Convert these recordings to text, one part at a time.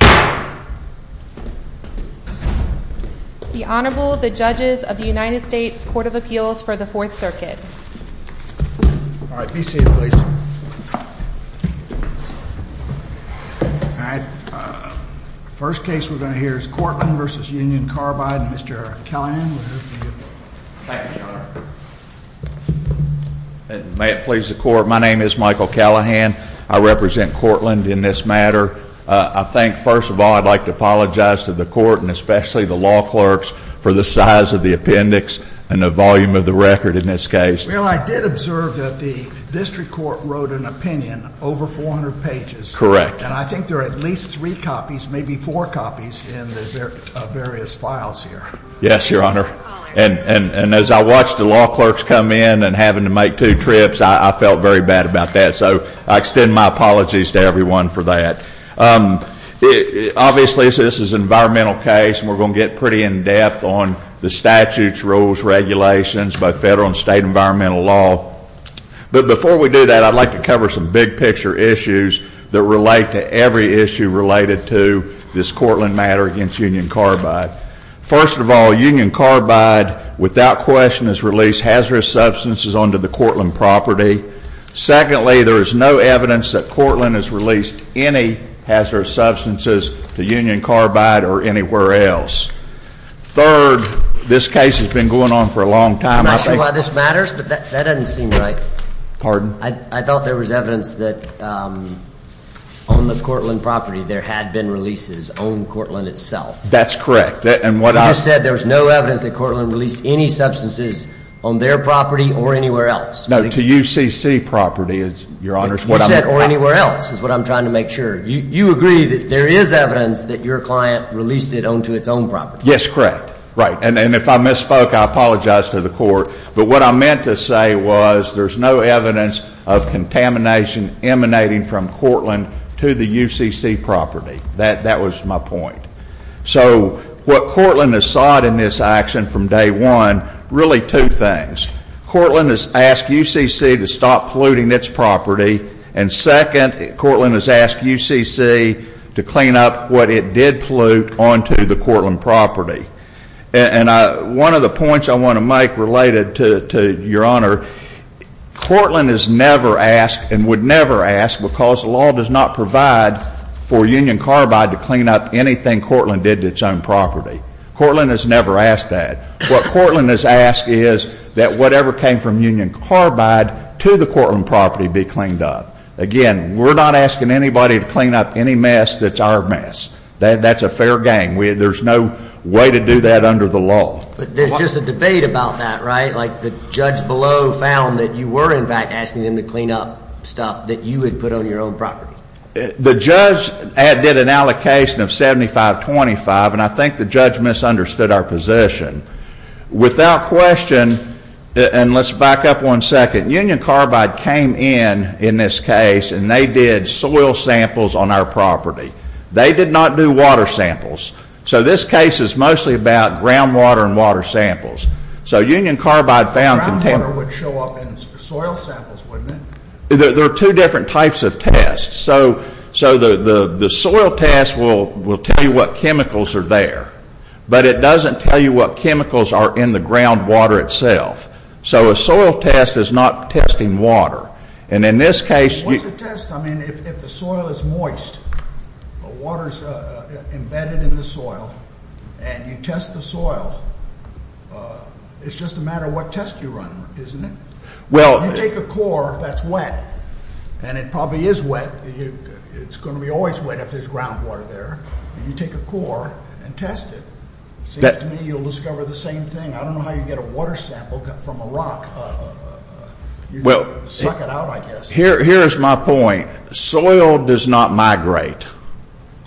The Honorable, the Judges of the United States Court of Appeals for the Fourth Circuit. All right, be seated, please. All right, first case we're going to hear is Courtland v. Union Carbide. Mr. Callahan, would that be okay? Thank you, Your Honor. May it please the Court, my name is Michael Callahan. I represent Courtland in this matter. I think, first of all, I'd like to apologize to the Court and especially the law clerks for the size of the appendix and the volume of the record in this case. Well, I did observe that the district court wrote an opinion over 400 pages. Correct. And I think there are at least three copies, maybe four copies in the various files here. Yes, Your Honor. And as I watched the law clerks come in and having to make two trips, I felt very bad about that. So I extend my apologies to everyone for that. Obviously, this is an environmental case, and we're going to get pretty in-depth on the statutes, rules, regulations, both federal and state environmental law. But before we do that, I'd like to cover some big-picture issues that relate to every issue related to this Courtland matter against Union Carbide. First of all, Union Carbide without question has released hazardous substances onto the Courtland property. Secondly, there is no evidence that Courtland has released any hazardous substances to Union Carbide or anywhere else. Third, this case has been going on for a long time. I'm not sure why this matters, but that doesn't seem right. Pardon? I thought there was evidence that on the Courtland property there had been releases on Courtland itself. That's correct. You just said there was no evidence that Courtland released any substances on their property or anywhere else. No, to UCC property, Your Honor. You said, or anywhere else, is what I'm trying to make sure. You agree that there is evidence that your client released it onto its own property. Yes, correct. Right. And if I misspoke, I apologize to the Court. But what I meant to say was there's no evidence of contamination emanating from Courtland to the UCC property. That was my point. So what Courtland has sought in this action from day one, really two things. Courtland has asked UCC to stop polluting its property. And second, Courtland has asked UCC to clean up what it did pollute onto the Courtland property. And one of the points I want to make related to Your Honor, Courtland has never asked and would never ask because the law does not provide for Union Carbide to clean up anything Courtland did to its own property. Courtland has never asked that. What Courtland has asked is that whatever came from Union Carbide to the Courtland property be cleaned up. Again, we're not asking anybody to clean up any mess that's our mess. That's a fair game. There's no way to do that under the law. But there's just a debate about that, right? Like the judge below found that you were, in fact, asking them to clean up stuff that you had put on your own property. The judge did an allocation of 75-25, and I think the judge misunderstood our position. Without question, and let's back up one second, Union Carbide came in in this case and they did soil samples on our property. They did not do water samples. So this case is mostly about groundwater and water samples. So Union Carbide found container. Groundwater would show up in soil samples, wouldn't it? There are two different types of tests. So the soil test will tell you what chemicals are there. But it doesn't tell you what chemicals are in the groundwater itself. So a soil test is not testing water. And in this case you. What's a test? I mean, if the soil is moist, the water is embedded in the soil, and you test the soil, it's just a matter of what test you run, isn't it? You take a core that's wet, and it probably is wet. It's going to be always wet if there's groundwater there. You take a core and test it. It seems to me you'll discover the same thing. I don't know how you get a water sample from a rock. You suck it out, I guess. Here's my point. Soil does not migrate.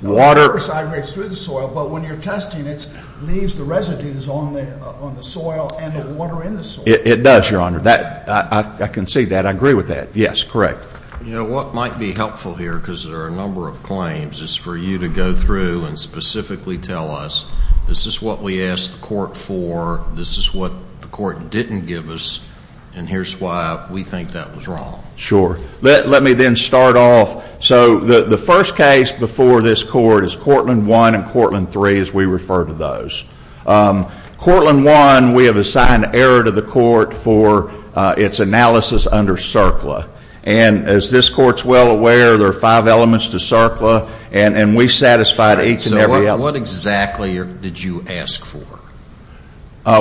Water. It migrates through the soil, but when you're testing it, it leaves the residues on the soil and the water in the soil. It does, Your Honor. I can see that. I agree with that. Yes, correct. You know, what might be helpful here, because there are a number of claims, is for you to go through and specifically tell us, this is what we asked the court for, this is what the court didn't give us, and here's why we think that was wrong. Sure. Let me then start off. So the first case before this court is Courtland 1 and Courtland 3, as we refer to those. Courtland 1, we have assigned error to the court for its analysis under CERCLA. And as this court's well aware, there are five elements to CERCLA, and we satisfied each and every element. So what exactly did you ask for?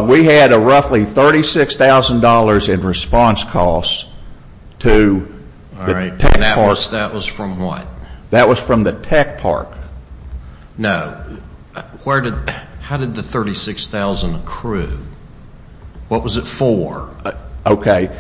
We had a roughly $36,000 in response costs to the tech part. That was from what? That was from the tech part. No. How did the $36,000 accrue? What was it for? Okay.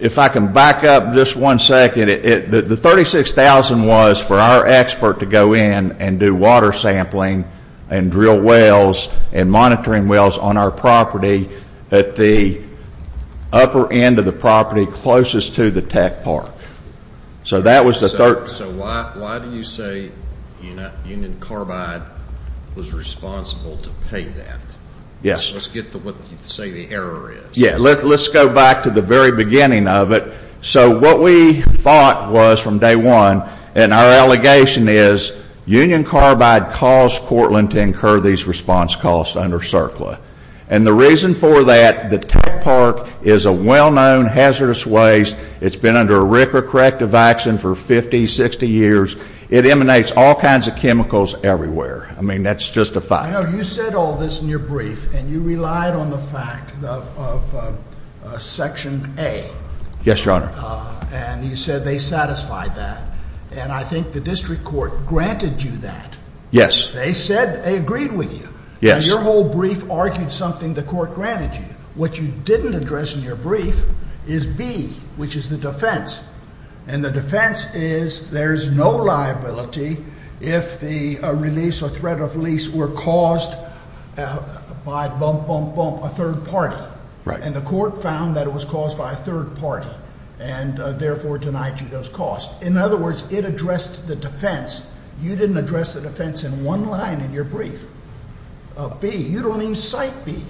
If I can back up just one second, the $36,000 was for our expert to go in and do water sampling and drill wells and monitoring wells on our property at the upper end of the property closest to the tech part. So that was the third. So why do you say Union Carbide was responsible to pay that? Yes. Let's get to what you say the error is. Yes. Let's go back to the very beginning of it. So what we thought was from day one, and our allegation is, Union Carbide caused Courtland to incur these response costs under CERCLA. And the reason for that, the tech part is a well-known hazardous waste. It's been under a RCRA corrective action for 50, 60 years. It emanates all kinds of chemicals everywhere. I mean, that's just a fact. I know you said all this in your brief, and you relied on the fact of Section A. Yes, Your Honor. And you said they satisfied that. And I think the district court granted you that. Yes. They said they agreed with you. Yes. And your whole brief argued something the court granted you. What you didn't address in your brief is B, which is the defense. And the defense is there's no liability if the release or threat of release were caused by bump, bump, bump, a third party. Right. And the court found that it was caused by a third party and, therefore, denied you those costs. In other words, it addressed the defense. You didn't address the defense in one line in your brief, B. You don't even cite B.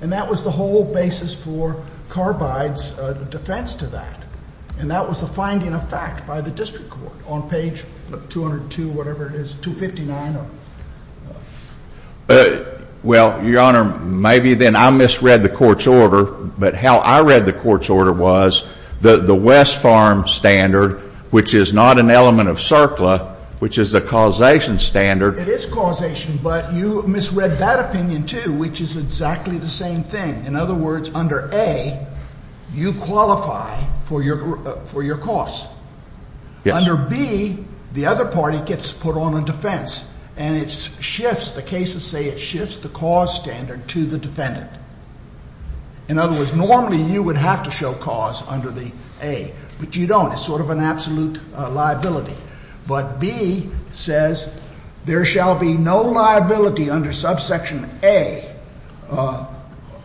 And that was the whole basis for Carbide's defense to that. And that was the finding of fact by the district court on page 202, whatever it is, 259. Well, Your Honor, maybe then I misread the court's order. But how I read the court's order was the West Farm standard, which is not an element of CERCLA, which is a causation standard. It is causation, but you misread that opinion, too, which is exactly the same thing. In other words, under A, you qualify for your costs. Yes. Under B, the other party gets put on a defense, and it shifts. The cases say it shifts the cause standard to the defendant. In other words, normally you would have to show cause under the A, but you don't. It's sort of an absolute liability. But B says there shall be no liability under subsection A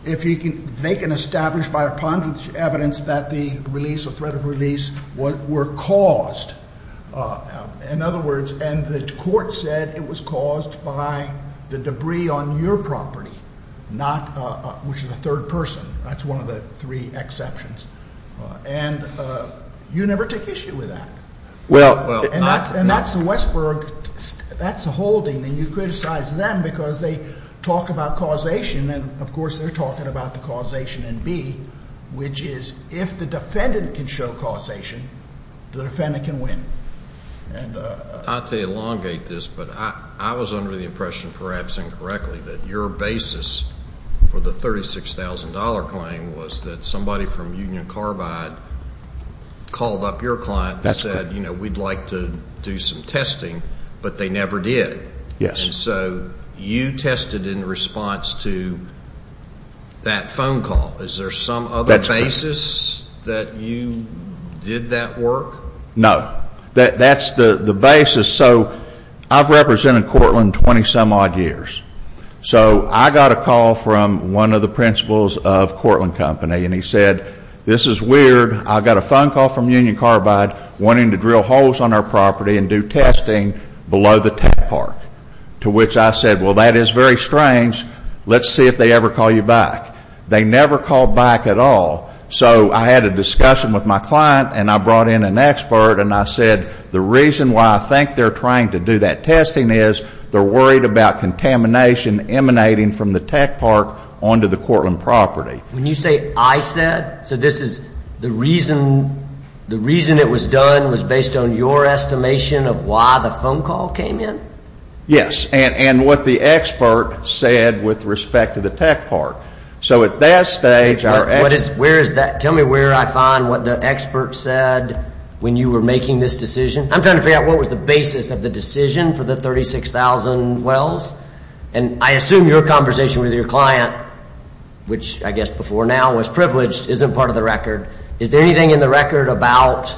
if they can establish by a ponderous evidence that the release or threat of release were caused. In other words, and the court said it was caused by the debris on your property, which is a third person. That's one of the three exceptions. And you never take issue with that. And that's the Westberg, that's the holding. And you criticize them because they talk about causation, and, of course, they're talking about the causation in B, which is if the defendant can show causation, the defendant can win. Not to elongate this, but I was under the impression, perhaps incorrectly, that your basis for the $36,000 claim was that somebody from Union Carbide called up your client and said, you know, we'd like to do some testing, but they never did. Yes. And so you tested in response to that phone call. Is there some other basis that you did that work? No. That's the basis. So I've represented Cortland 20-some odd years. So I got a call from one of the principals of Cortland Company, and he said, this is weird. I got a phone call from Union Carbide wanting to drill holes on our property and do testing below the tech park, to which I said, well, that is very strange. Let's see if they ever call you back. They never called back at all. So I had a discussion with my client, and I brought in an expert, and I said, the reason why I think they're trying to do that testing is they're worried about contamination emanating from the tech park onto the Cortland property. When you say I said, so this is the reason it was done was based on your estimation of why the phone call came in? Yes, and what the expert said with respect to the tech park. So at that stage, our expert Where is that? Tell me where I find what the expert said when you were making this decision. I'm trying to figure out what was the basis of the decision for the 36,000 wells. And I assume your conversation with your client, which I guess before now was privileged, isn't part of the record. Is there anything in the record about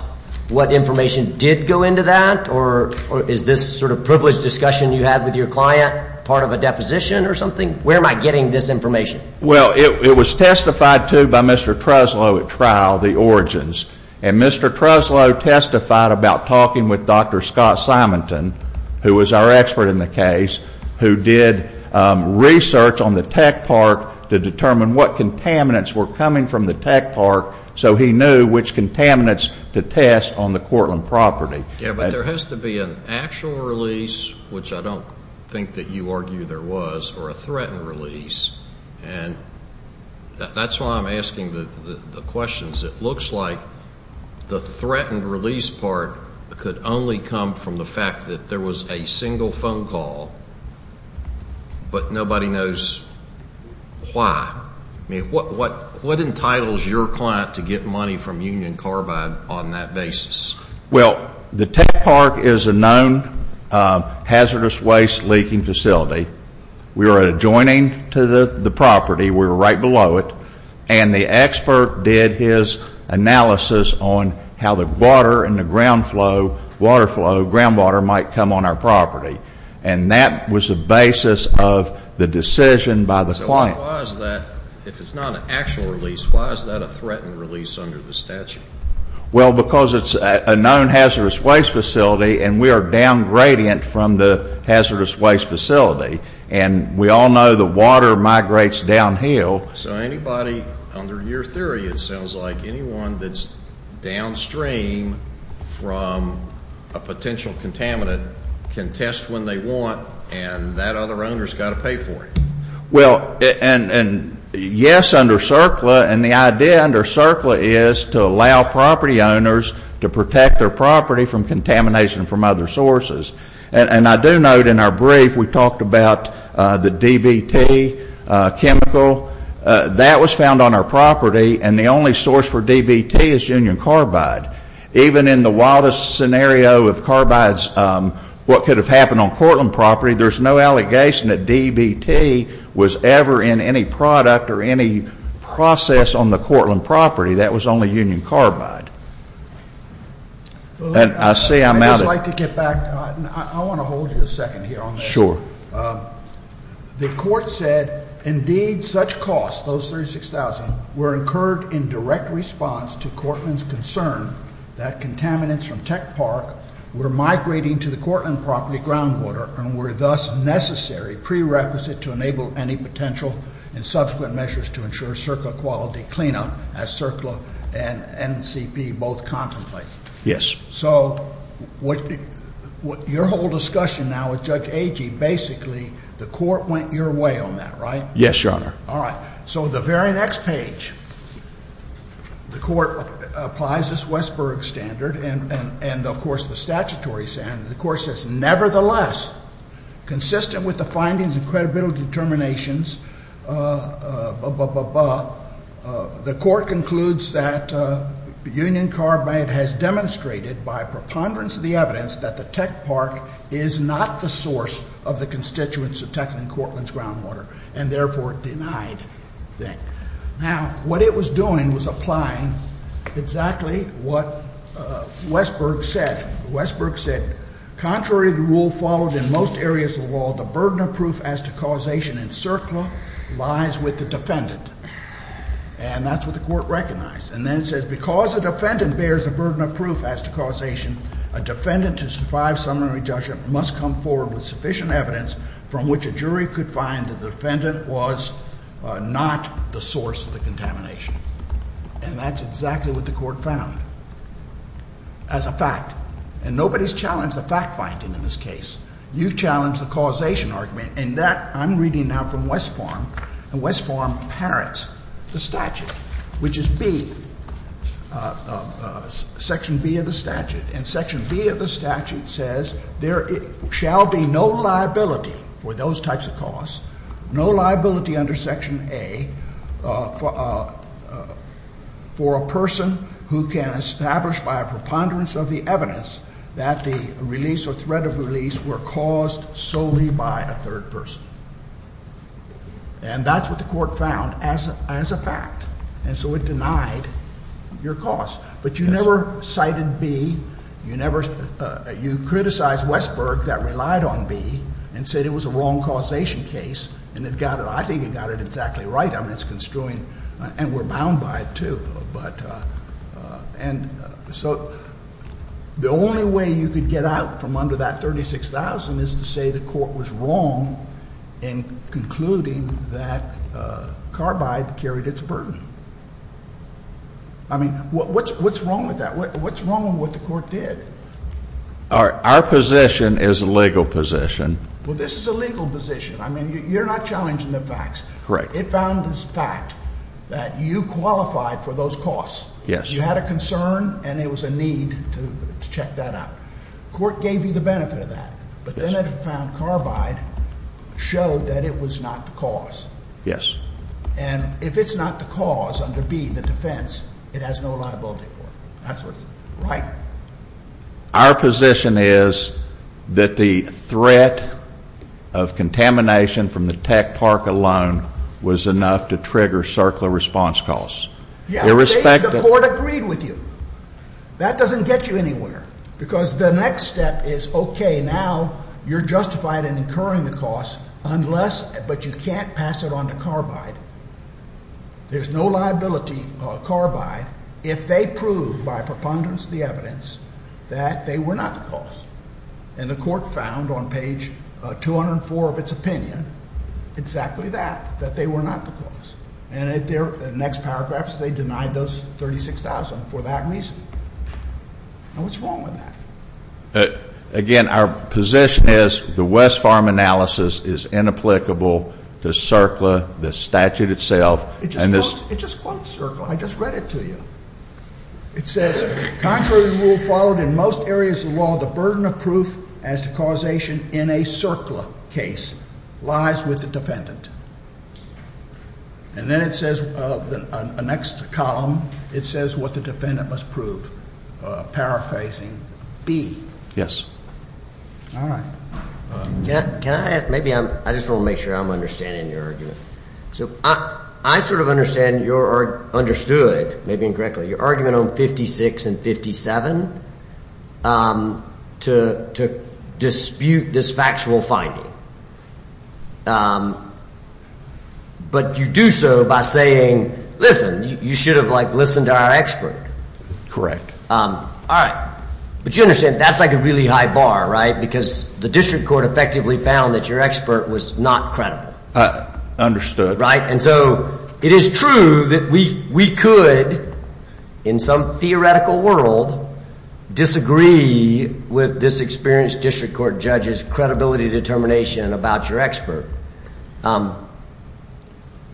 what information did go into that, or is this sort of privileged discussion you had with your client part of a deposition or something? Where am I getting this information? Well, it was testified to by Mr. Treslow at trial, the origins. And Mr. Treslow testified about talking with Dr. Scott Simonton, who was our expert in the case, who did research on the tech park to determine what contaminants were coming from the tech park so he knew which contaminants to test on the Cortland property. Yeah, but there has to be an actual release, which I don't think that you argue there was, or a threatened release. And that's why I'm asking the questions. It looks like the threatened release part could only come from the fact that there was a single phone call, but nobody knows why. I mean, what entitles your client to get money from Union Carbide on that basis? Well, the tech park is a known hazardous waste leaking facility. We were adjoining to the property. We were right below it. And the expert did his analysis on how the water and the ground flow, water flow, ground water might come on our property. And that was the basis of the decision by the client. So why is that, if it's not an actual release, why is that a threatened release under the statute? Well, because it's a known hazardous waste facility and we are downgradient from the hazardous waste facility. And we all know the water migrates downhill. So anybody, under your theory, it sounds like anyone that's downstream from a potential contaminant can test when they want and that other owner has got to pay for it. Well, and yes, under CERCLA, and the idea under CERCLA is to allow property owners to protect their property from contamination from other sources. And I do note in our brief we talked about the DBT chemical. That was found on our property. And the only source for DBT is Union Carbide. Even in the wildest scenario of carbides, what could have happened on Cortland property, there's no allegation that DBT was ever in any product or any process on the Cortland property. That was only Union Carbide. And I see I'm out of it. I'd just like to get back. I want to hold you a second here on that. Sure. The court said, indeed, such costs, those $36,000, were incurred in direct response to Cortland's concern that contaminants from Tech Park were migrating to the Cortland property groundwater and were thus necessary prerequisite to enable any potential and subsequent measures to ensure CERCLA quality cleanup, as CERCLA and NCP both contemplate. Yes. So your whole discussion now with Judge Agee, basically, the court went your way on that, right? Yes, Your Honor. All right. So the very next page, the court applies this Westberg standard and, of course, the statutory standard. The court says, nevertheless, consistent with the findings and credibility determinations, blah, blah, blah, blah, the court concludes that Union Carbide has demonstrated by preponderance of the evidence that the Tech Park is not the source of the constituents of Techland and Cortland's groundwater and, therefore, denied that. Now, what it was doing was applying exactly what Westberg said. Westberg said, contrary to the rule followed in most areas of the law, the burden of proof as to causation in CERCLA lies with the defendant. And that's what the court recognized. And then it says, because the defendant bears the burden of proof as to causation, a defendant to survive summary judgment must come forward with sufficient evidence from which a jury could find the defendant was not the source of the contamination. And that's exactly what the court found. As a fact. And nobody's challenged the fact-finding in this case. You've challenged the causation argument. And that I'm reading now from Westpharm. And Westpharm inherits the statute, which is B, Section B of the statute. And Section B of the statute says there shall be no liability for those types of cause, no liability under Section A for a person who can establish by a preponderance of the evidence that the release or threat of release were caused solely by a third person. And that's what the court found as a fact. And so it denied your cause. But you never cited B. You criticized Westpharm that relied on B and said it was a wrong causation case. And it got it. I think it got it exactly right. I mean, it's construing. And we're bound by it, too. And so the only way you could get out from under that $36,000 is to say the court was wrong in concluding that carbide carried its burden. I mean, what's wrong with that? What's wrong with what the court did? Our position is a legal position. Well, this is a legal position. I mean, you're not challenging the facts. Correct. It found as a fact that you qualified for those cause. Yes. You had a concern, and it was a need to check that out. The court gave you the benefit of that. But then it found carbide showed that it was not the cause. Yes. And if it's not the cause under B, the defense, it has no liability for it. That's what's right. Our position is that the threat of contamination from the tech park alone was enough to trigger CERCLA response calls. Yes. The court agreed with you. That doesn't get you anywhere. Because the next step is, okay, now you're justified in incurring the cost, but you can't pass it on to carbide. There's no liability, carbide, if they prove by preponderance of the evidence that they were not the cause. And the court found on page 204 of its opinion exactly that, that they were not the cause. And in the next paragraphs, they denied those $36,000 for that reason. Now, what's wrong with that? Again, our position is the Westpharm analysis is inapplicable to CERCLA, the statute itself. It just quotes CERCLA. I just read it to you. It says, contrary to rule followed in most areas of law, the burden of proof as to causation in a CERCLA case lies with the defendant. And then it says, the next column, it says what the defendant must prove, paraphrasing B. All right. Can I add, maybe I'm, I just want to make sure I'm understanding your argument. So I sort of understand your, or understood, maybe incorrectly, your argument on 56 and 57 to dispute this factual finding. But you do so by saying, listen, you should have, like, listened to our expert. Correct. All right. But you understand, that's like a really high bar, right? Because the district court effectively found that your expert was not credible. Understood. Right? And so it is true that we could, in some theoretical world, disagree with this experienced district court judge's credibility determination about your expert.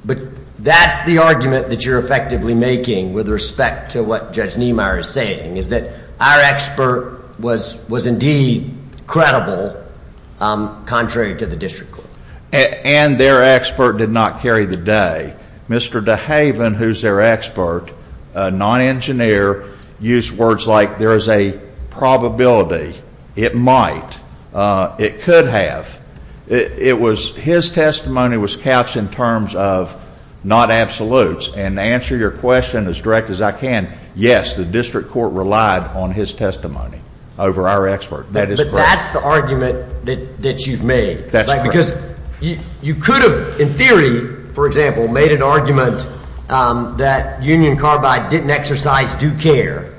But that's the argument that you're effectively making with respect to what Judge Niemeyer is saying, is that our expert was indeed credible, contrary to the district court. And their expert did not carry the day. Mr. DeHaven, who's their expert, a non-engineer, used words like there is a probability, it might, it could have. It was, his testimony was couched in terms of not absolutes. And to answer your question as direct as I can, yes, the district court relied on his testimony over our expert. That is correct. But that's the argument that you've made. That's correct. Because you could have, in theory, for example, made an argument that Union Carbide didn't exercise due care,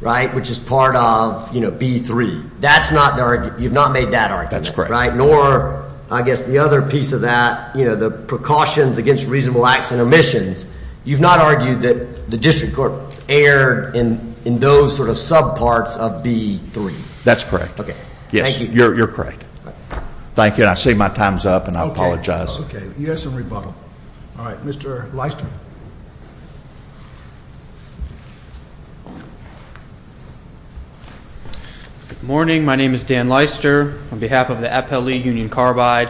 right, which is part of, you know, B3. That's not the argument. You've not made that argument. That's correct. Right? Nor, I guess, the other piece of that, you know, the precautions against reasonable acts and omissions. You've not argued that the district court erred in those sort of subparts of B3. That's correct. Okay. Thank you. You're correct. Thank you. And I see my time is up, and I apologize. Okay. You had some rebuttal. All right. Mr. Leister. Good morning. My name is Dan Leister on behalf of the Appellee Union Carbide.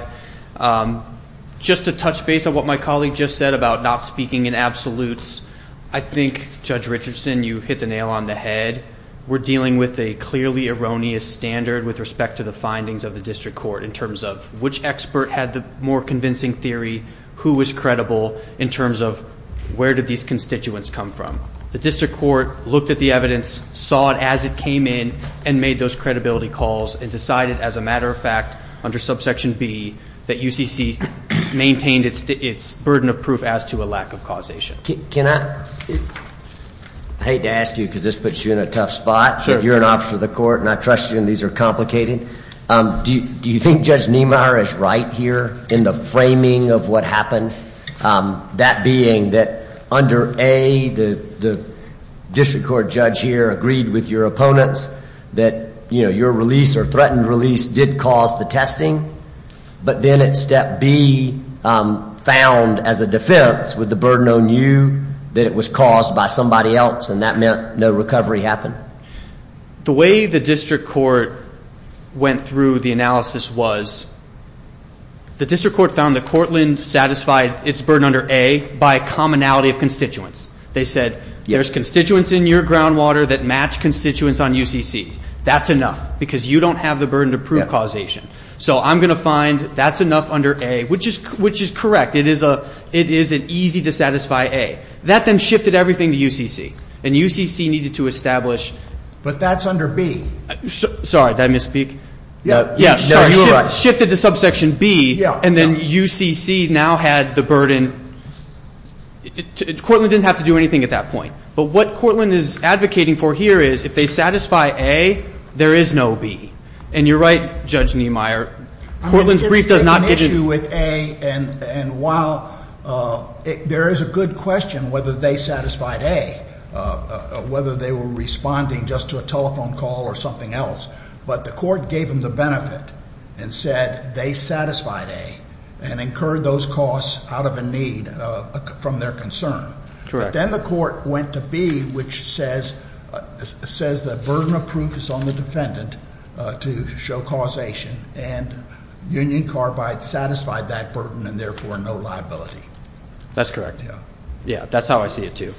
Just to touch base on what my colleague just said about not speaking in absolutes, I think, Judge Richardson, you hit the nail on the head. We're dealing with a clearly erroneous standard with respect to the findings of the district court in terms of which expert had the more convincing theory, who was credible in terms of where did these constituents come from. The district court looked at the evidence, saw it as it came in, and made those credibility calls and decided, as a matter of fact, under subsection B, that UCC maintained its burden of proof as to a lack of causation. Can I? I hate to ask you because this puts you in a tough spot. Sure. You're an officer of the court, and I trust you, and these are complicated. Do you think Judge Niemeyer is right here in the framing of what happened, that being that under A, the district court judge here agreed with your opponents that your release or threatened release did cause the testing, but then at step B found as a defense with the burden on you that it was caused by somebody else and that meant no recovery happened? The way the district court went through the analysis was the district court found that Cortland satisfied its burden under A by commonality of constituents. They said there's constituents in your groundwater that match constituents on UCC. That's enough because you don't have the burden to prove causation. So I'm going to find that's enough under A, which is correct. It is an easy to satisfy A. That then shifted everything to UCC, and UCC needed to establish. But that's under B. Sorry, did I misspeak? No, you were right. It shifted to subsection B, and then UCC now had the burden. Cortland didn't have to do anything at that point. But what Cortland is advocating for here is if they satisfy A, there is no B. And you're right, Judge Niemeyer. Cortland's brief does not. I think it's an issue with A, and while there is a good question whether they satisfied A, whether they were responding just to a telephone call or something else, but the court gave them the benefit and said they satisfied A and incurred those costs out of a need from their concern. Correct. Then the court went to B, which says the burden of proof is on the defendant to show causation, and Union Carbide satisfied that burden and therefore no liability. That's correct. Yeah, that's how I see it too.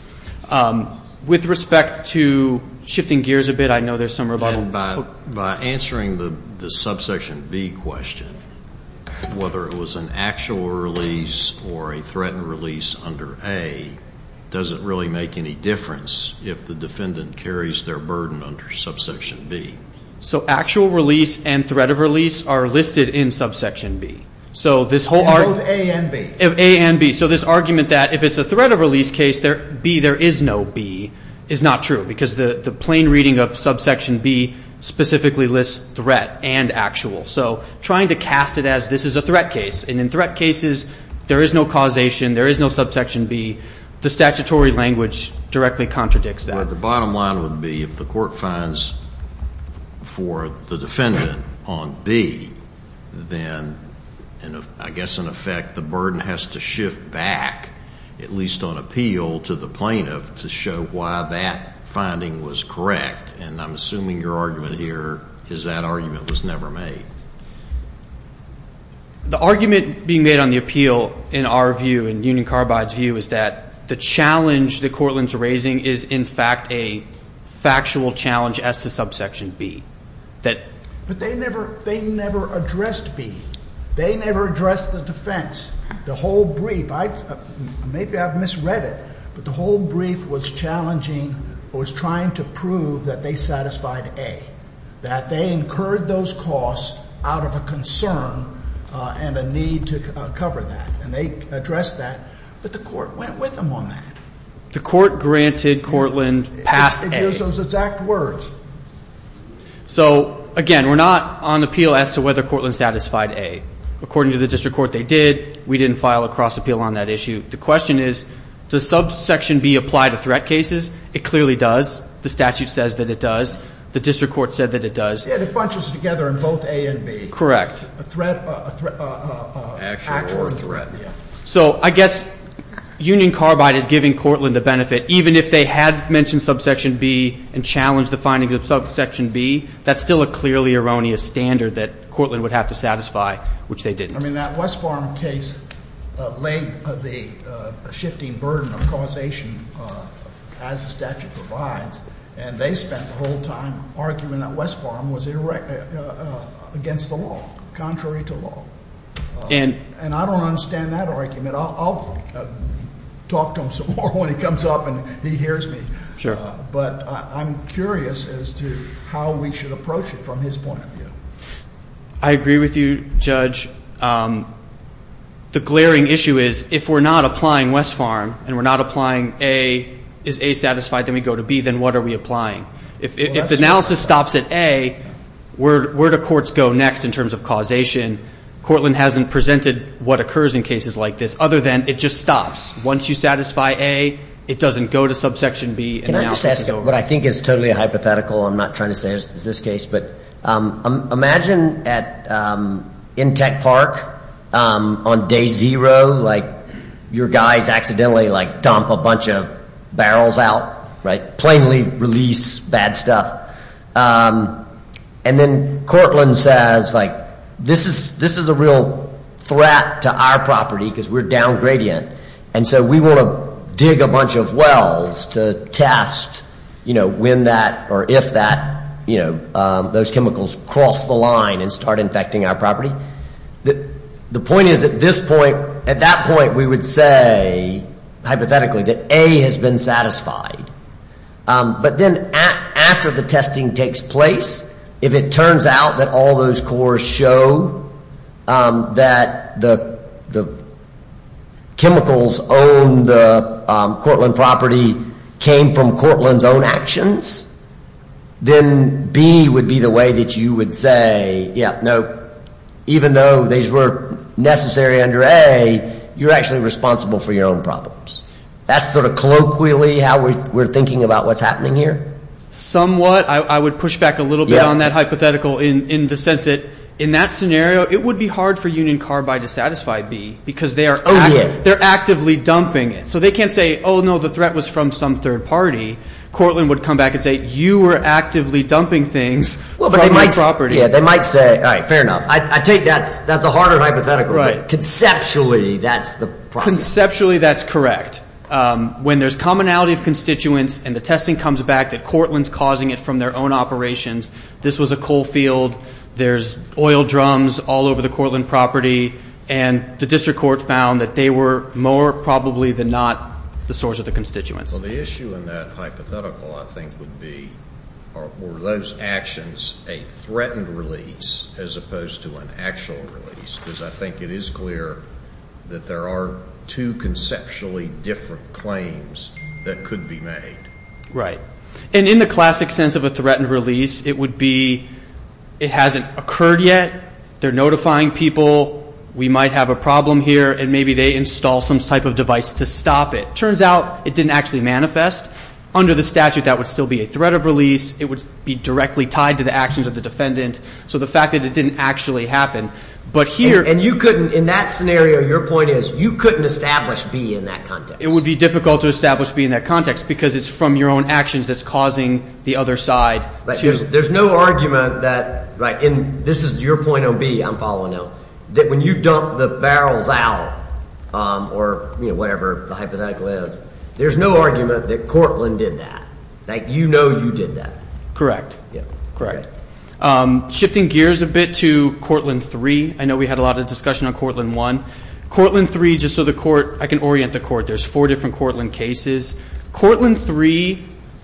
With respect to shifting gears a bit, I know there's some rebuttal. And by answering the subsection B question, whether it was an actual release or a threatened release under A doesn't really make any difference if the defendant carries their burden under subsection B. So actual release and threat of release are listed in subsection B. Both A and B. A and B. So this argument that if it's a threat of release case, there is no B is not true because the plain reading of subsection B specifically lists threat and actual. So trying to cast it as this is a threat case, and in threat cases there is no causation, there is no subsection B, the statutory language directly contradicts that. The bottom line would be if the court finds for the defendant on B, then I guess in effect the burden has to shift back, at least on appeal to the plaintiff, to show why that finding was correct. And I'm assuming your argument here is that argument was never made. The argument being made on the appeal in our view, in Union Carbide's view, is that the challenge the courtland's raising is in fact a factual challenge as to subsection B. But they never addressed B. They never addressed the defense. The whole brief, maybe I've misread it, but the whole brief was challenging, was trying to prove that they satisfied A, that they incurred those costs out of a concern and a need to cover that, and they addressed that, but the court went with them on that. The court granted courtland pass A. So, again, we're not on appeal as to whether courtland satisfied A. According to the district court, they did. We didn't file a cross-appeal on that issue. The question is, does subsection B apply to threat cases? It clearly does. The statute says that it does. The district court said that it does. And it bunches together in both A and B. Correct. A threat, an actual threat. So I guess Union Carbide is giving courtland the benefit, that even if they had mentioned subsection B and challenged the findings of subsection B, that's still a clearly erroneous standard that courtland would have to satisfy, which they didn't. I mean, that West Farm case laid the shifting burden of causation as the statute provides, and they spent the whole time arguing that West Farm was against the law, contrary to law. And I don't understand that argument. I'll talk to him some more when he comes up and he hears me. But I'm curious as to how we should approach it from his point of view. I agree with you, Judge. The glaring issue is if we're not applying West Farm and we're not applying A, is A satisfied, then we go to B, then what are we applying? If analysis stops at A, where do courts go next in terms of causation? Courtland hasn't presented what occurs in cases like this. Other than it just stops. Once you satisfy A, it doesn't go to subsection B. Can I just ask you what I think is totally hypothetical? I'm not trying to say it's this case. But imagine at Intech Park on day zero, like, your guys accidentally, like, dump a bunch of barrels out, right, plainly release bad stuff. And then Courtland says, like, this is a real threat to our property because we're downgradient. And so we want to dig a bunch of wells to test, you know, when that or if that, you know, those chemicals cross the line and start infecting our property. The point is at this point, at that point, we would say hypothetically that A has been satisfied. But then after the testing takes place, if it turns out that all those cores show that the chemicals on the Courtland property came from Courtland's own actions, then B would be the way that you would say, yeah, no, even though these were necessary under A, you're actually responsible for your own problems. That's sort of colloquially how we're thinking about what's happening here? Somewhat. I would push back a little bit on that hypothetical in the sense that in that scenario it would be hard for Union Carbide to satisfy B because they are actively dumping it. So they can't say, oh, no, the threat was from some third party. Courtland would come back and say you were actively dumping things from my property. Yeah, they might say, all right, fair enough. I take that's a harder hypothetical. Right. Conceptually that's the process. Conceptually that's correct. When there's commonality of constituents and the testing comes back that Courtland's causing it from their own operations, this was a coal field, there's oil drums all over the Courtland property, and the district court found that they were more probably than not the source of the constituents. Well, the issue in that hypothetical I think would be were those actions a threatened release as opposed to an actual release? Because I think it is clear that there are two conceptually different claims that could be made. Right. And in the classic sense of a threatened release, it would be it hasn't occurred yet, they're notifying people, we might have a problem here, and maybe they install some type of device to stop it. Turns out it didn't actually manifest. Under the statute that would still be a threat of release. It would be directly tied to the actions of the defendant. So the fact that it didn't actually happen. And you couldn't, in that scenario, your point is you couldn't establish B in that context. It would be difficult to establish B in that context because it's from your own actions that's causing the other side to. There's no argument that, and this is your point on B, I'm following up, that when you dump the barrels out or whatever the hypothetical is, there's no argument that Courtland did that. You know you did that. Correct. Correct. Shifting gears a bit to Courtland 3, I know we had a lot of discussion on Courtland 1. Courtland 3, just so the court, I can orient the court, there's four different Courtland cases. Courtland 3,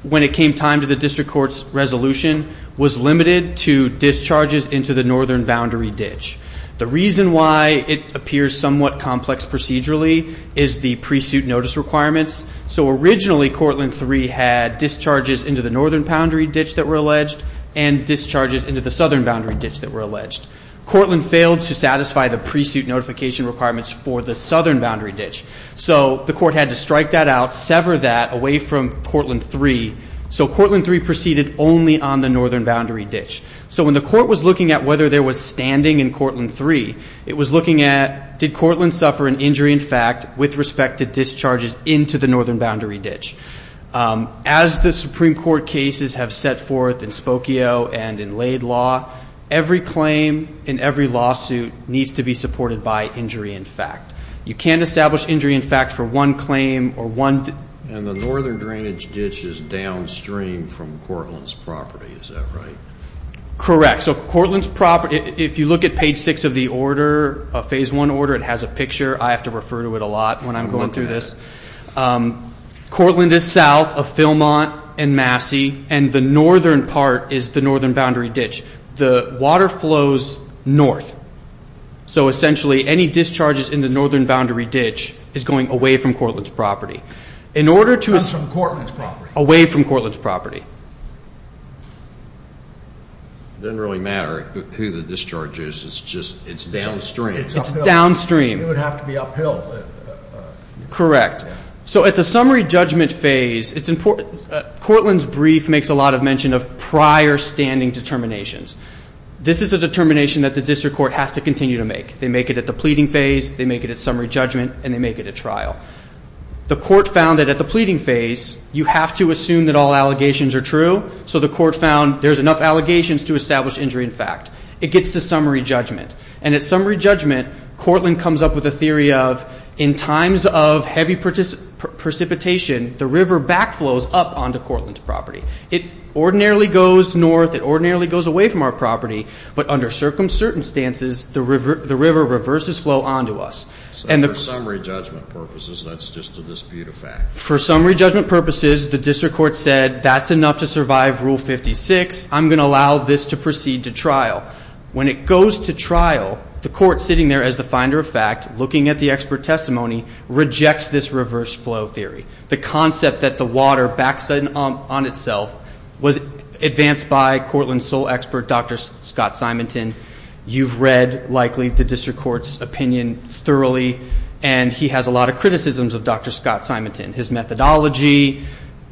when it came time to the district court's resolution, was limited to discharges into the northern boundary ditch. The reason why it appears somewhat complex procedurally is the pre-suit notice requirements. So originally Courtland 3 had discharges into the northern boundary ditch that were alleged and discharges into the southern boundary ditch that were alleged. Courtland failed to satisfy the pre-suit notification requirements for the southern boundary ditch. So the court had to strike that out, sever that away from Courtland 3. So Courtland 3 proceeded only on the northern boundary ditch. So when the court was looking at whether there was standing in Courtland 3, it was looking at, did Courtland suffer an injury in fact with respect to discharges into the northern boundary ditch? As the Supreme Court cases have set forth in Spokio and in Laid Law, every claim in every lawsuit needs to be supported by injury in fact. You can't establish injury in fact for one claim or one. And the northern drainage ditch is downstream from Courtland's property, is that right? Correct. So Courtland's property, if you look at page 6 of the order, a phase 1 order, it has a picture. I have to refer to it a lot when I'm going through this. Courtland is south of Philmont and Massey, and the northern part is the northern boundary ditch. The water flows north. So essentially any discharges in the northern boundary ditch is going away from Courtland's property. Not from Courtland's property. Away from Courtland's property. It doesn't really matter who the discharge is, it's downstream. It's downstream. It would have to be uphill. Correct. So at the summary judgment phase, it's important. Courtland's brief makes a lot of mention of prior standing determinations. This is a determination that the district court has to continue to make. They make it at the pleading phase, they make it at summary judgment, and they make it at trial. The court found that at the pleading phase, you have to assume that all allegations are true. So the court found there's enough allegations to establish injury in fact. It gets to summary judgment. And at summary judgment, Courtland comes up with a theory of in times of heavy precipitation, the river backflows up onto Courtland's property. It ordinarily goes north. It ordinarily goes away from our property. But under circumstances, the river reverses flow onto us. So for summary judgment purposes, that's just a dispute of fact. For summary judgment purposes, the district court said that's enough to survive Rule 56. I'm going to allow this to proceed to trial. When it goes to trial, the court sitting there as the finder of fact, looking at the expert testimony, rejects this reverse flow theory. The concept that the water backs on itself was advanced by Courtland's sole expert, Dr. Scott Simonton. You've read, likely, the district court's opinion thoroughly, and he has a lot of criticisms of Dr. Scott Simonton. His methodology,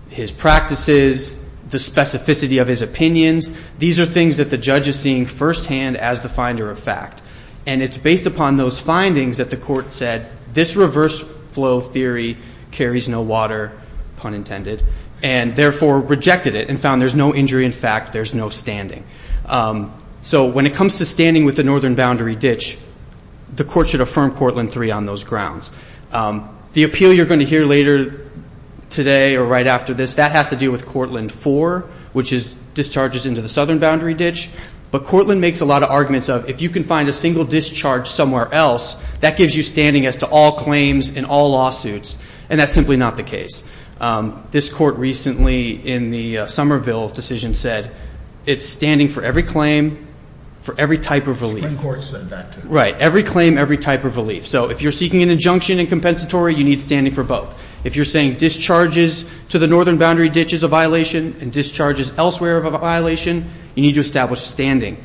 his practices, the specificity of his opinions, these are things that the judge is seeing firsthand as the finder of fact. And it's based upon those findings that the court said this reverse flow theory carries no water, pun intended, and therefore rejected it and found there's no injury in fact, there's no standing. So when it comes to standing with the northern boundary ditch, the court should affirm Courtland 3 on those grounds. The appeal you're going to hear later today or right after this, that has to do with Courtland 4, which is discharges into the southern boundary ditch. But Courtland makes a lot of arguments of if you can find a single discharge somewhere else, that gives you standing as to all claims and all lawsuits, and that's simply not the case. This court recently in the Somerville decision said it's standing for every claim, for every type of relief. The Supreme Court said that too. Right, every claim, every type of relief. So if you're seeking an injunction and compensatory, you need standing for both. If you're saying discharges to the northern boundary ditch is a violation and discharges elsewhere of a violation, you need to establish standing.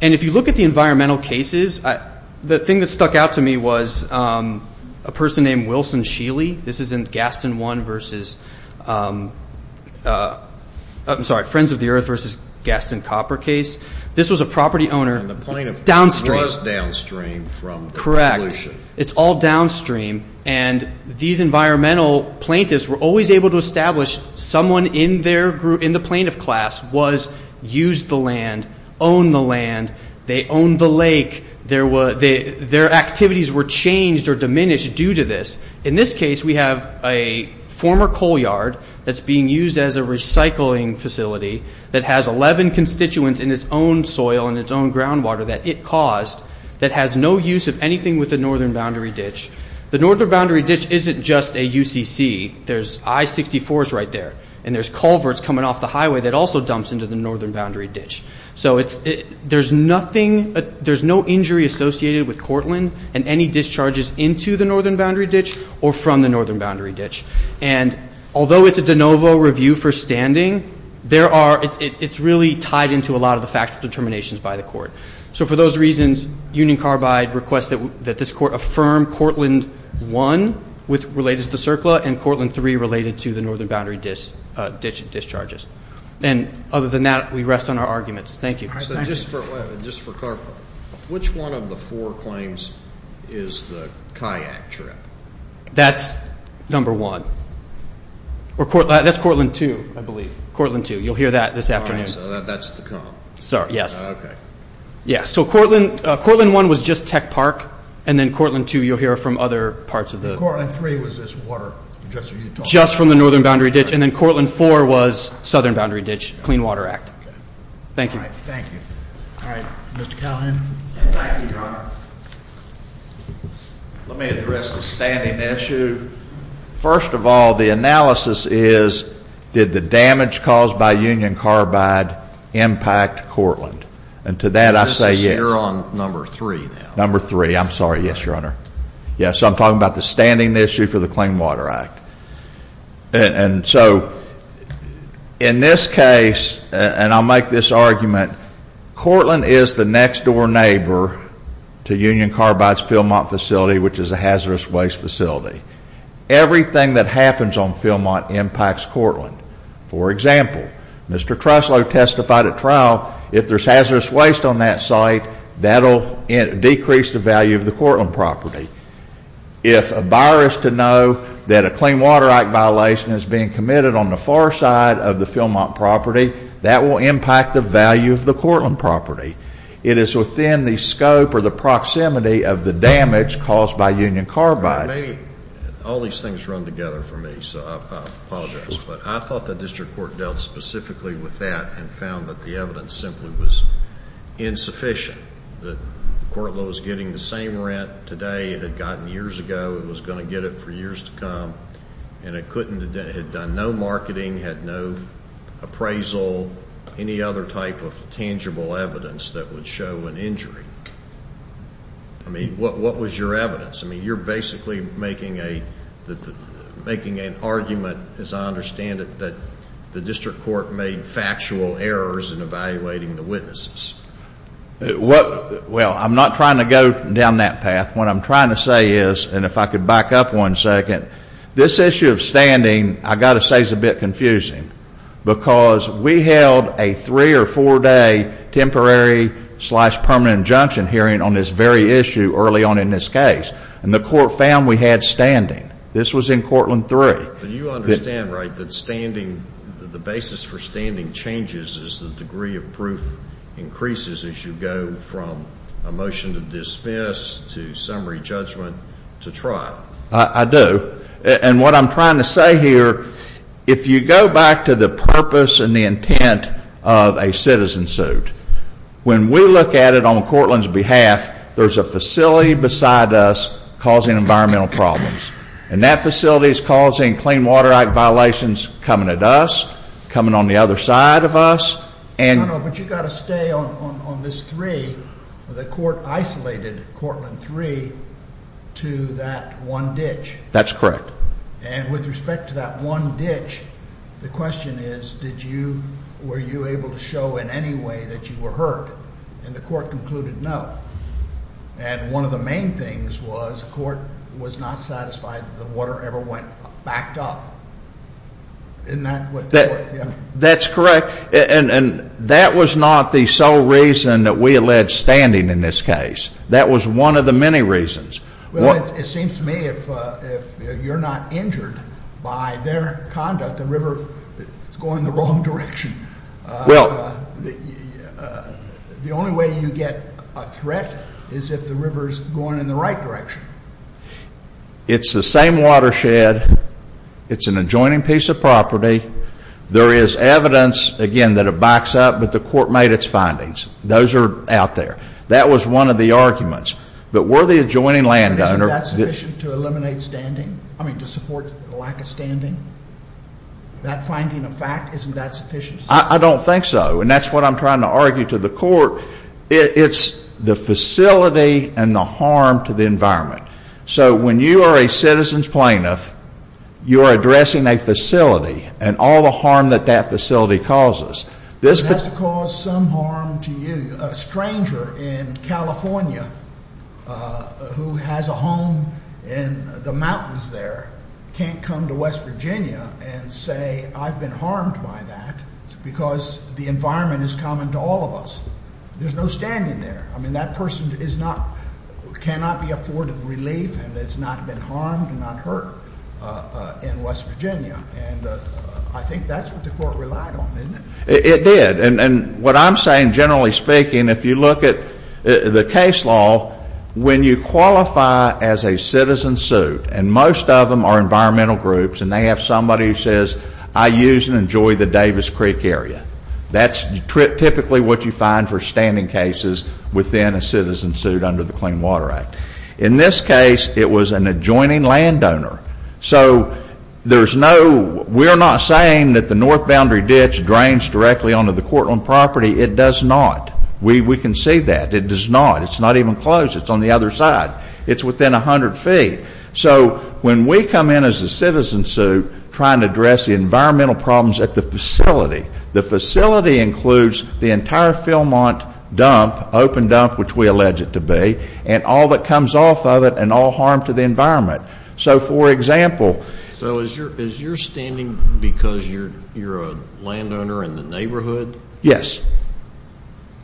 And if you look at the environmental cases, the thing that stuck out to me was a person named Wilson Sheely. This is in Gaston 1 versus – I'm sorry, Friends of the Earth versus Gaston Copper case. This was a property owner downstream. And the plaintiff was downstream from the solution. It's all downstream. And these environmental plaintiffs were always able to establish someone in their group, in the plaintiff class, was used the land, owned the land, they owned the lake. Their activities were changed or diminished due to this. In this case, we have a former coal yard that's being used as a recycling facility that has 11 constituents in its own soil and its own groundwater that it caused that has no use of anything with the northern boundary ditch. The northern boundary ditch isn't just a UCC. There's I-64s right there. And there's culverts coming off the highway that also dumps into the northern boundary ditch. So there's nothing – there's no injury associated with Cortland and any discharges into the northern boundary ditch or from the northern boundary ditch. And although it's a de novo review for standing, there are – it's really tied into a lot of the factual determinations by the court. So for those reasons, Union Carbide requests that this court affirm Cortland 1 related to the CERCLA and Cortland 3 related to the northern boundary ditch discharges. And other than that, we rest on our arguments. Thank you. So just for – just for clarification, which one of the four claims is the kayak trip? That's number one. Or – that's Cortland 2, I believe. Cortland 2. You'll hear that this afternoon. So that's the – Sorry. Yes. Okay. Yeah. So Cortland 1 was just Tech Park, and then Cortland 2 you'll hear from other parts of the – And Cortland 3 was just water, just what you told us. Just from the northern boundary ditch. And then Cortland 4 was southern boundary ditch, Clean Water Act. Okay. Thank you. All right. Thank you. All right. Mr. Calhoun. Thank you, Your Honor. Let me address the standing issue. First of all, the analysis is did the damage caused by union carbide impact Cortland? And to that I say yes. You're on number three now. Number three. I'm sorry. Yes, Your Honor. Yes, I'm talking about the standing issue for the Clean Water Act. And so in this case, and I'll make this argument, Cortland is the next door neighbor to Union Carbide's Philmont facility, which is a hazardous waste facility. Everything that happens on Philmont impacts Cortland. For example, Mr. Treslow testified at trial, if there's hazardous waste on that site, that'll decrease the value of the Cortland property. If a buyer is to know that a Clean Water Act violation is being committed on the far side of the Philmont property, that will impact the value of the Cortland property. It is within the scope or the proximity of the damage caused by union carbide. All these things run together for me, so I apologize. But I thought the district court dealt specifically with that and found that the evidence simply was insufficient. The court was getting the same rent today it had gotten years ago, it was going to get it for years to come, and it had done no marketing, had no appraisal, any other type of tangible evidence that would show an injury. I mean, what was your evidence? I mean, you're basically making an argument, as I understand it, that the district court made factual errors in evaluating the witnesses. Well, I'm not trying to go down that path. What I'm trying to say is, and if I could back up one second, this issue of standing, I've got to say, is a bit confusing because we held a three- or four-day temporary-slash-permanent injunction hearing on this very issue early on in this case, and the court found we had standing. This was in Cortland III. But you understand, right, that the basis for standing changes as the degree of proof increases as you go from a motion to dismiss to summary judgment to trial? I do. And what I'm trying to say here, if you go back to the purpose and the intent of a citizen suit, when we look at it on Cortland's behalf, there's a facility beside us causing environmental problems, and that facility is causing Clean Water Act violations coming at us, coming on the other side of us. But you've got to stay on this three. The court isolated Cortland III to that one ditch. That's correct. And with respect to that one ditch, the question is, were you able to show in any way that you were hurt? And the court concluded no. And one of the main things was the court was not satisfied that the water ever went back up. Isn't that what the court did? That's correct. And that was not the sole reason that we alleged standing in this case. That was one of the many reasons. Well, it seems to me if you're not injured by their conduct, the river is going the wrong direction. Well. The only way you get a threat is if the river is going in the right direction. It's the same watershed. It's an adjoining piece of property. There is evidence, again, that it backs up, but the court made its findings. Those are out there. That was one of the arguments. But were the adjoining landowner. But isn't that sufficient to eliminate standing? I mean, to support the lack of standing? That finding of fact, isn't that sufficient? I don't think so. And that's what I'm trying to argue to the court. It's the facility and the harm to the environment. So when you are a citizen's plaintiff, you are addressing a facility and all the harm that that facility causes. It has to cause some harm to you. A stranger in California who has a home in the mountains there can't come to West Virginia and say, I've been harmed by that because the environment is common to all of us. There's no standing there. I mean, that person cannot be afforded relief and has not been harmed and not hurt in West Virginia. And I think that's what the court relied on, isn't it? It did. And what I'm saying, generally speaking, if you look at the case law, when you qualify as a citizen suit and most of them are environmental groups and they have somebody who says, I use and enjoy the Davis Creek area. That's typically what you find for standing cases within a citizen suit under the Clean Water Act. In this case, it was an adjoining landowner. So there's no we're not saying that the north boundary ditch drains directly onto the Cortland property. It does not. We can see that. It does not. It's not even close. It's on the other side. It's within 100 feet. So when we come in as a citizen suit trying to address the environmental problems at the facility, the facility includes the entire Fillmont dump, open dump, which we allege it to be, and all that comes off of it and all harm to the environment. So, for example. So is your standing because you're a landowner in the neighborhood? Yes.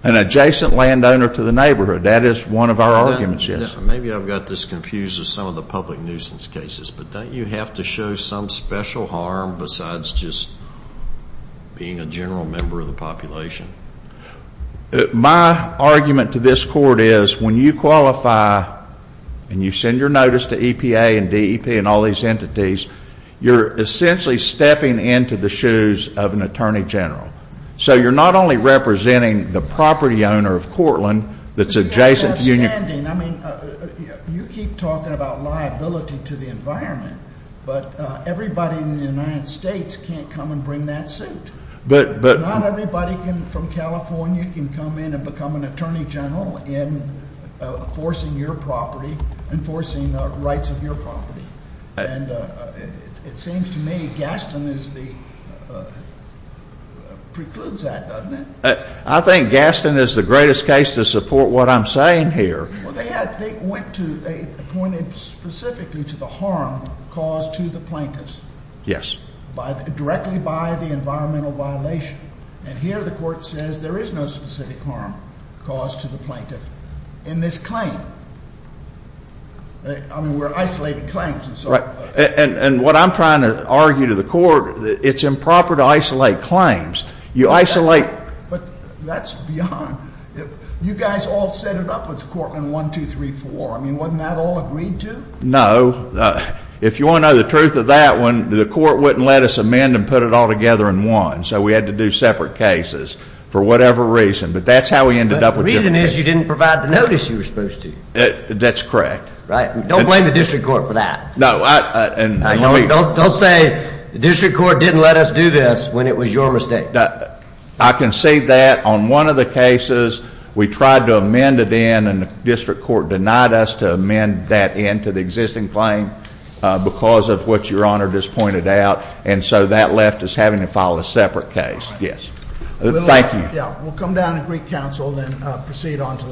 An adjacent landowner to the neighborhood. That is one of our arguments, yes. Maybe I've got this confused with some of the public nuisance cases, but don't you have to show some special harm besides just being a general member of the population? My argument to this court is when you qualify and you send your notice to EPA and DEP and all these entities, you're essentially stepping into the shoes of an attorney general. So you're not only representing the property owner of Cortland that's adjacent to you. I mean, you keep talking about liability to the environment, but everybody in the United States can't come and bring that suit. Not everybody from California can come in and become an attorney general in enforcing your property, enforcing the rights of your property. And it seems to me Gaston precludes that, doesn't it? I think Gaston is the greatest case to support what I'm saying here. Well, they went to, they pointed specifically to the harm caused to the plaintiffs. Yes. Directly by the environmental violation. And here the court says there is no specific harm caused to the plaintiff in this claim. I mean, we're isolating claims and so forth. And what I'm trying to argue to the court, it's improper to isolate claims. You isolate. But that's beyond. You guys all set it up with Cortland 1234. I mean, wasn't that all agreed to? No. If you want to know the truth of that one, the court wouldn't let us amend and put it all together in one. So we had to do separate cases for whatever reason. But that's how we ended up with different cases. The reason is you didn't provide the notice you were supposed to. That's correct. Right. Don't blame the district court for that. No. Don't say the district court didn't let us do this when it was your mistake. I can say that on one of the cases we tried to amend it in and the district court denied us to amend that in to the existing claim because of what your Honor just pointed out. And so that left us having to file a separate case. Thank you. We'll come down and greet counsel and then proceed on to the next case.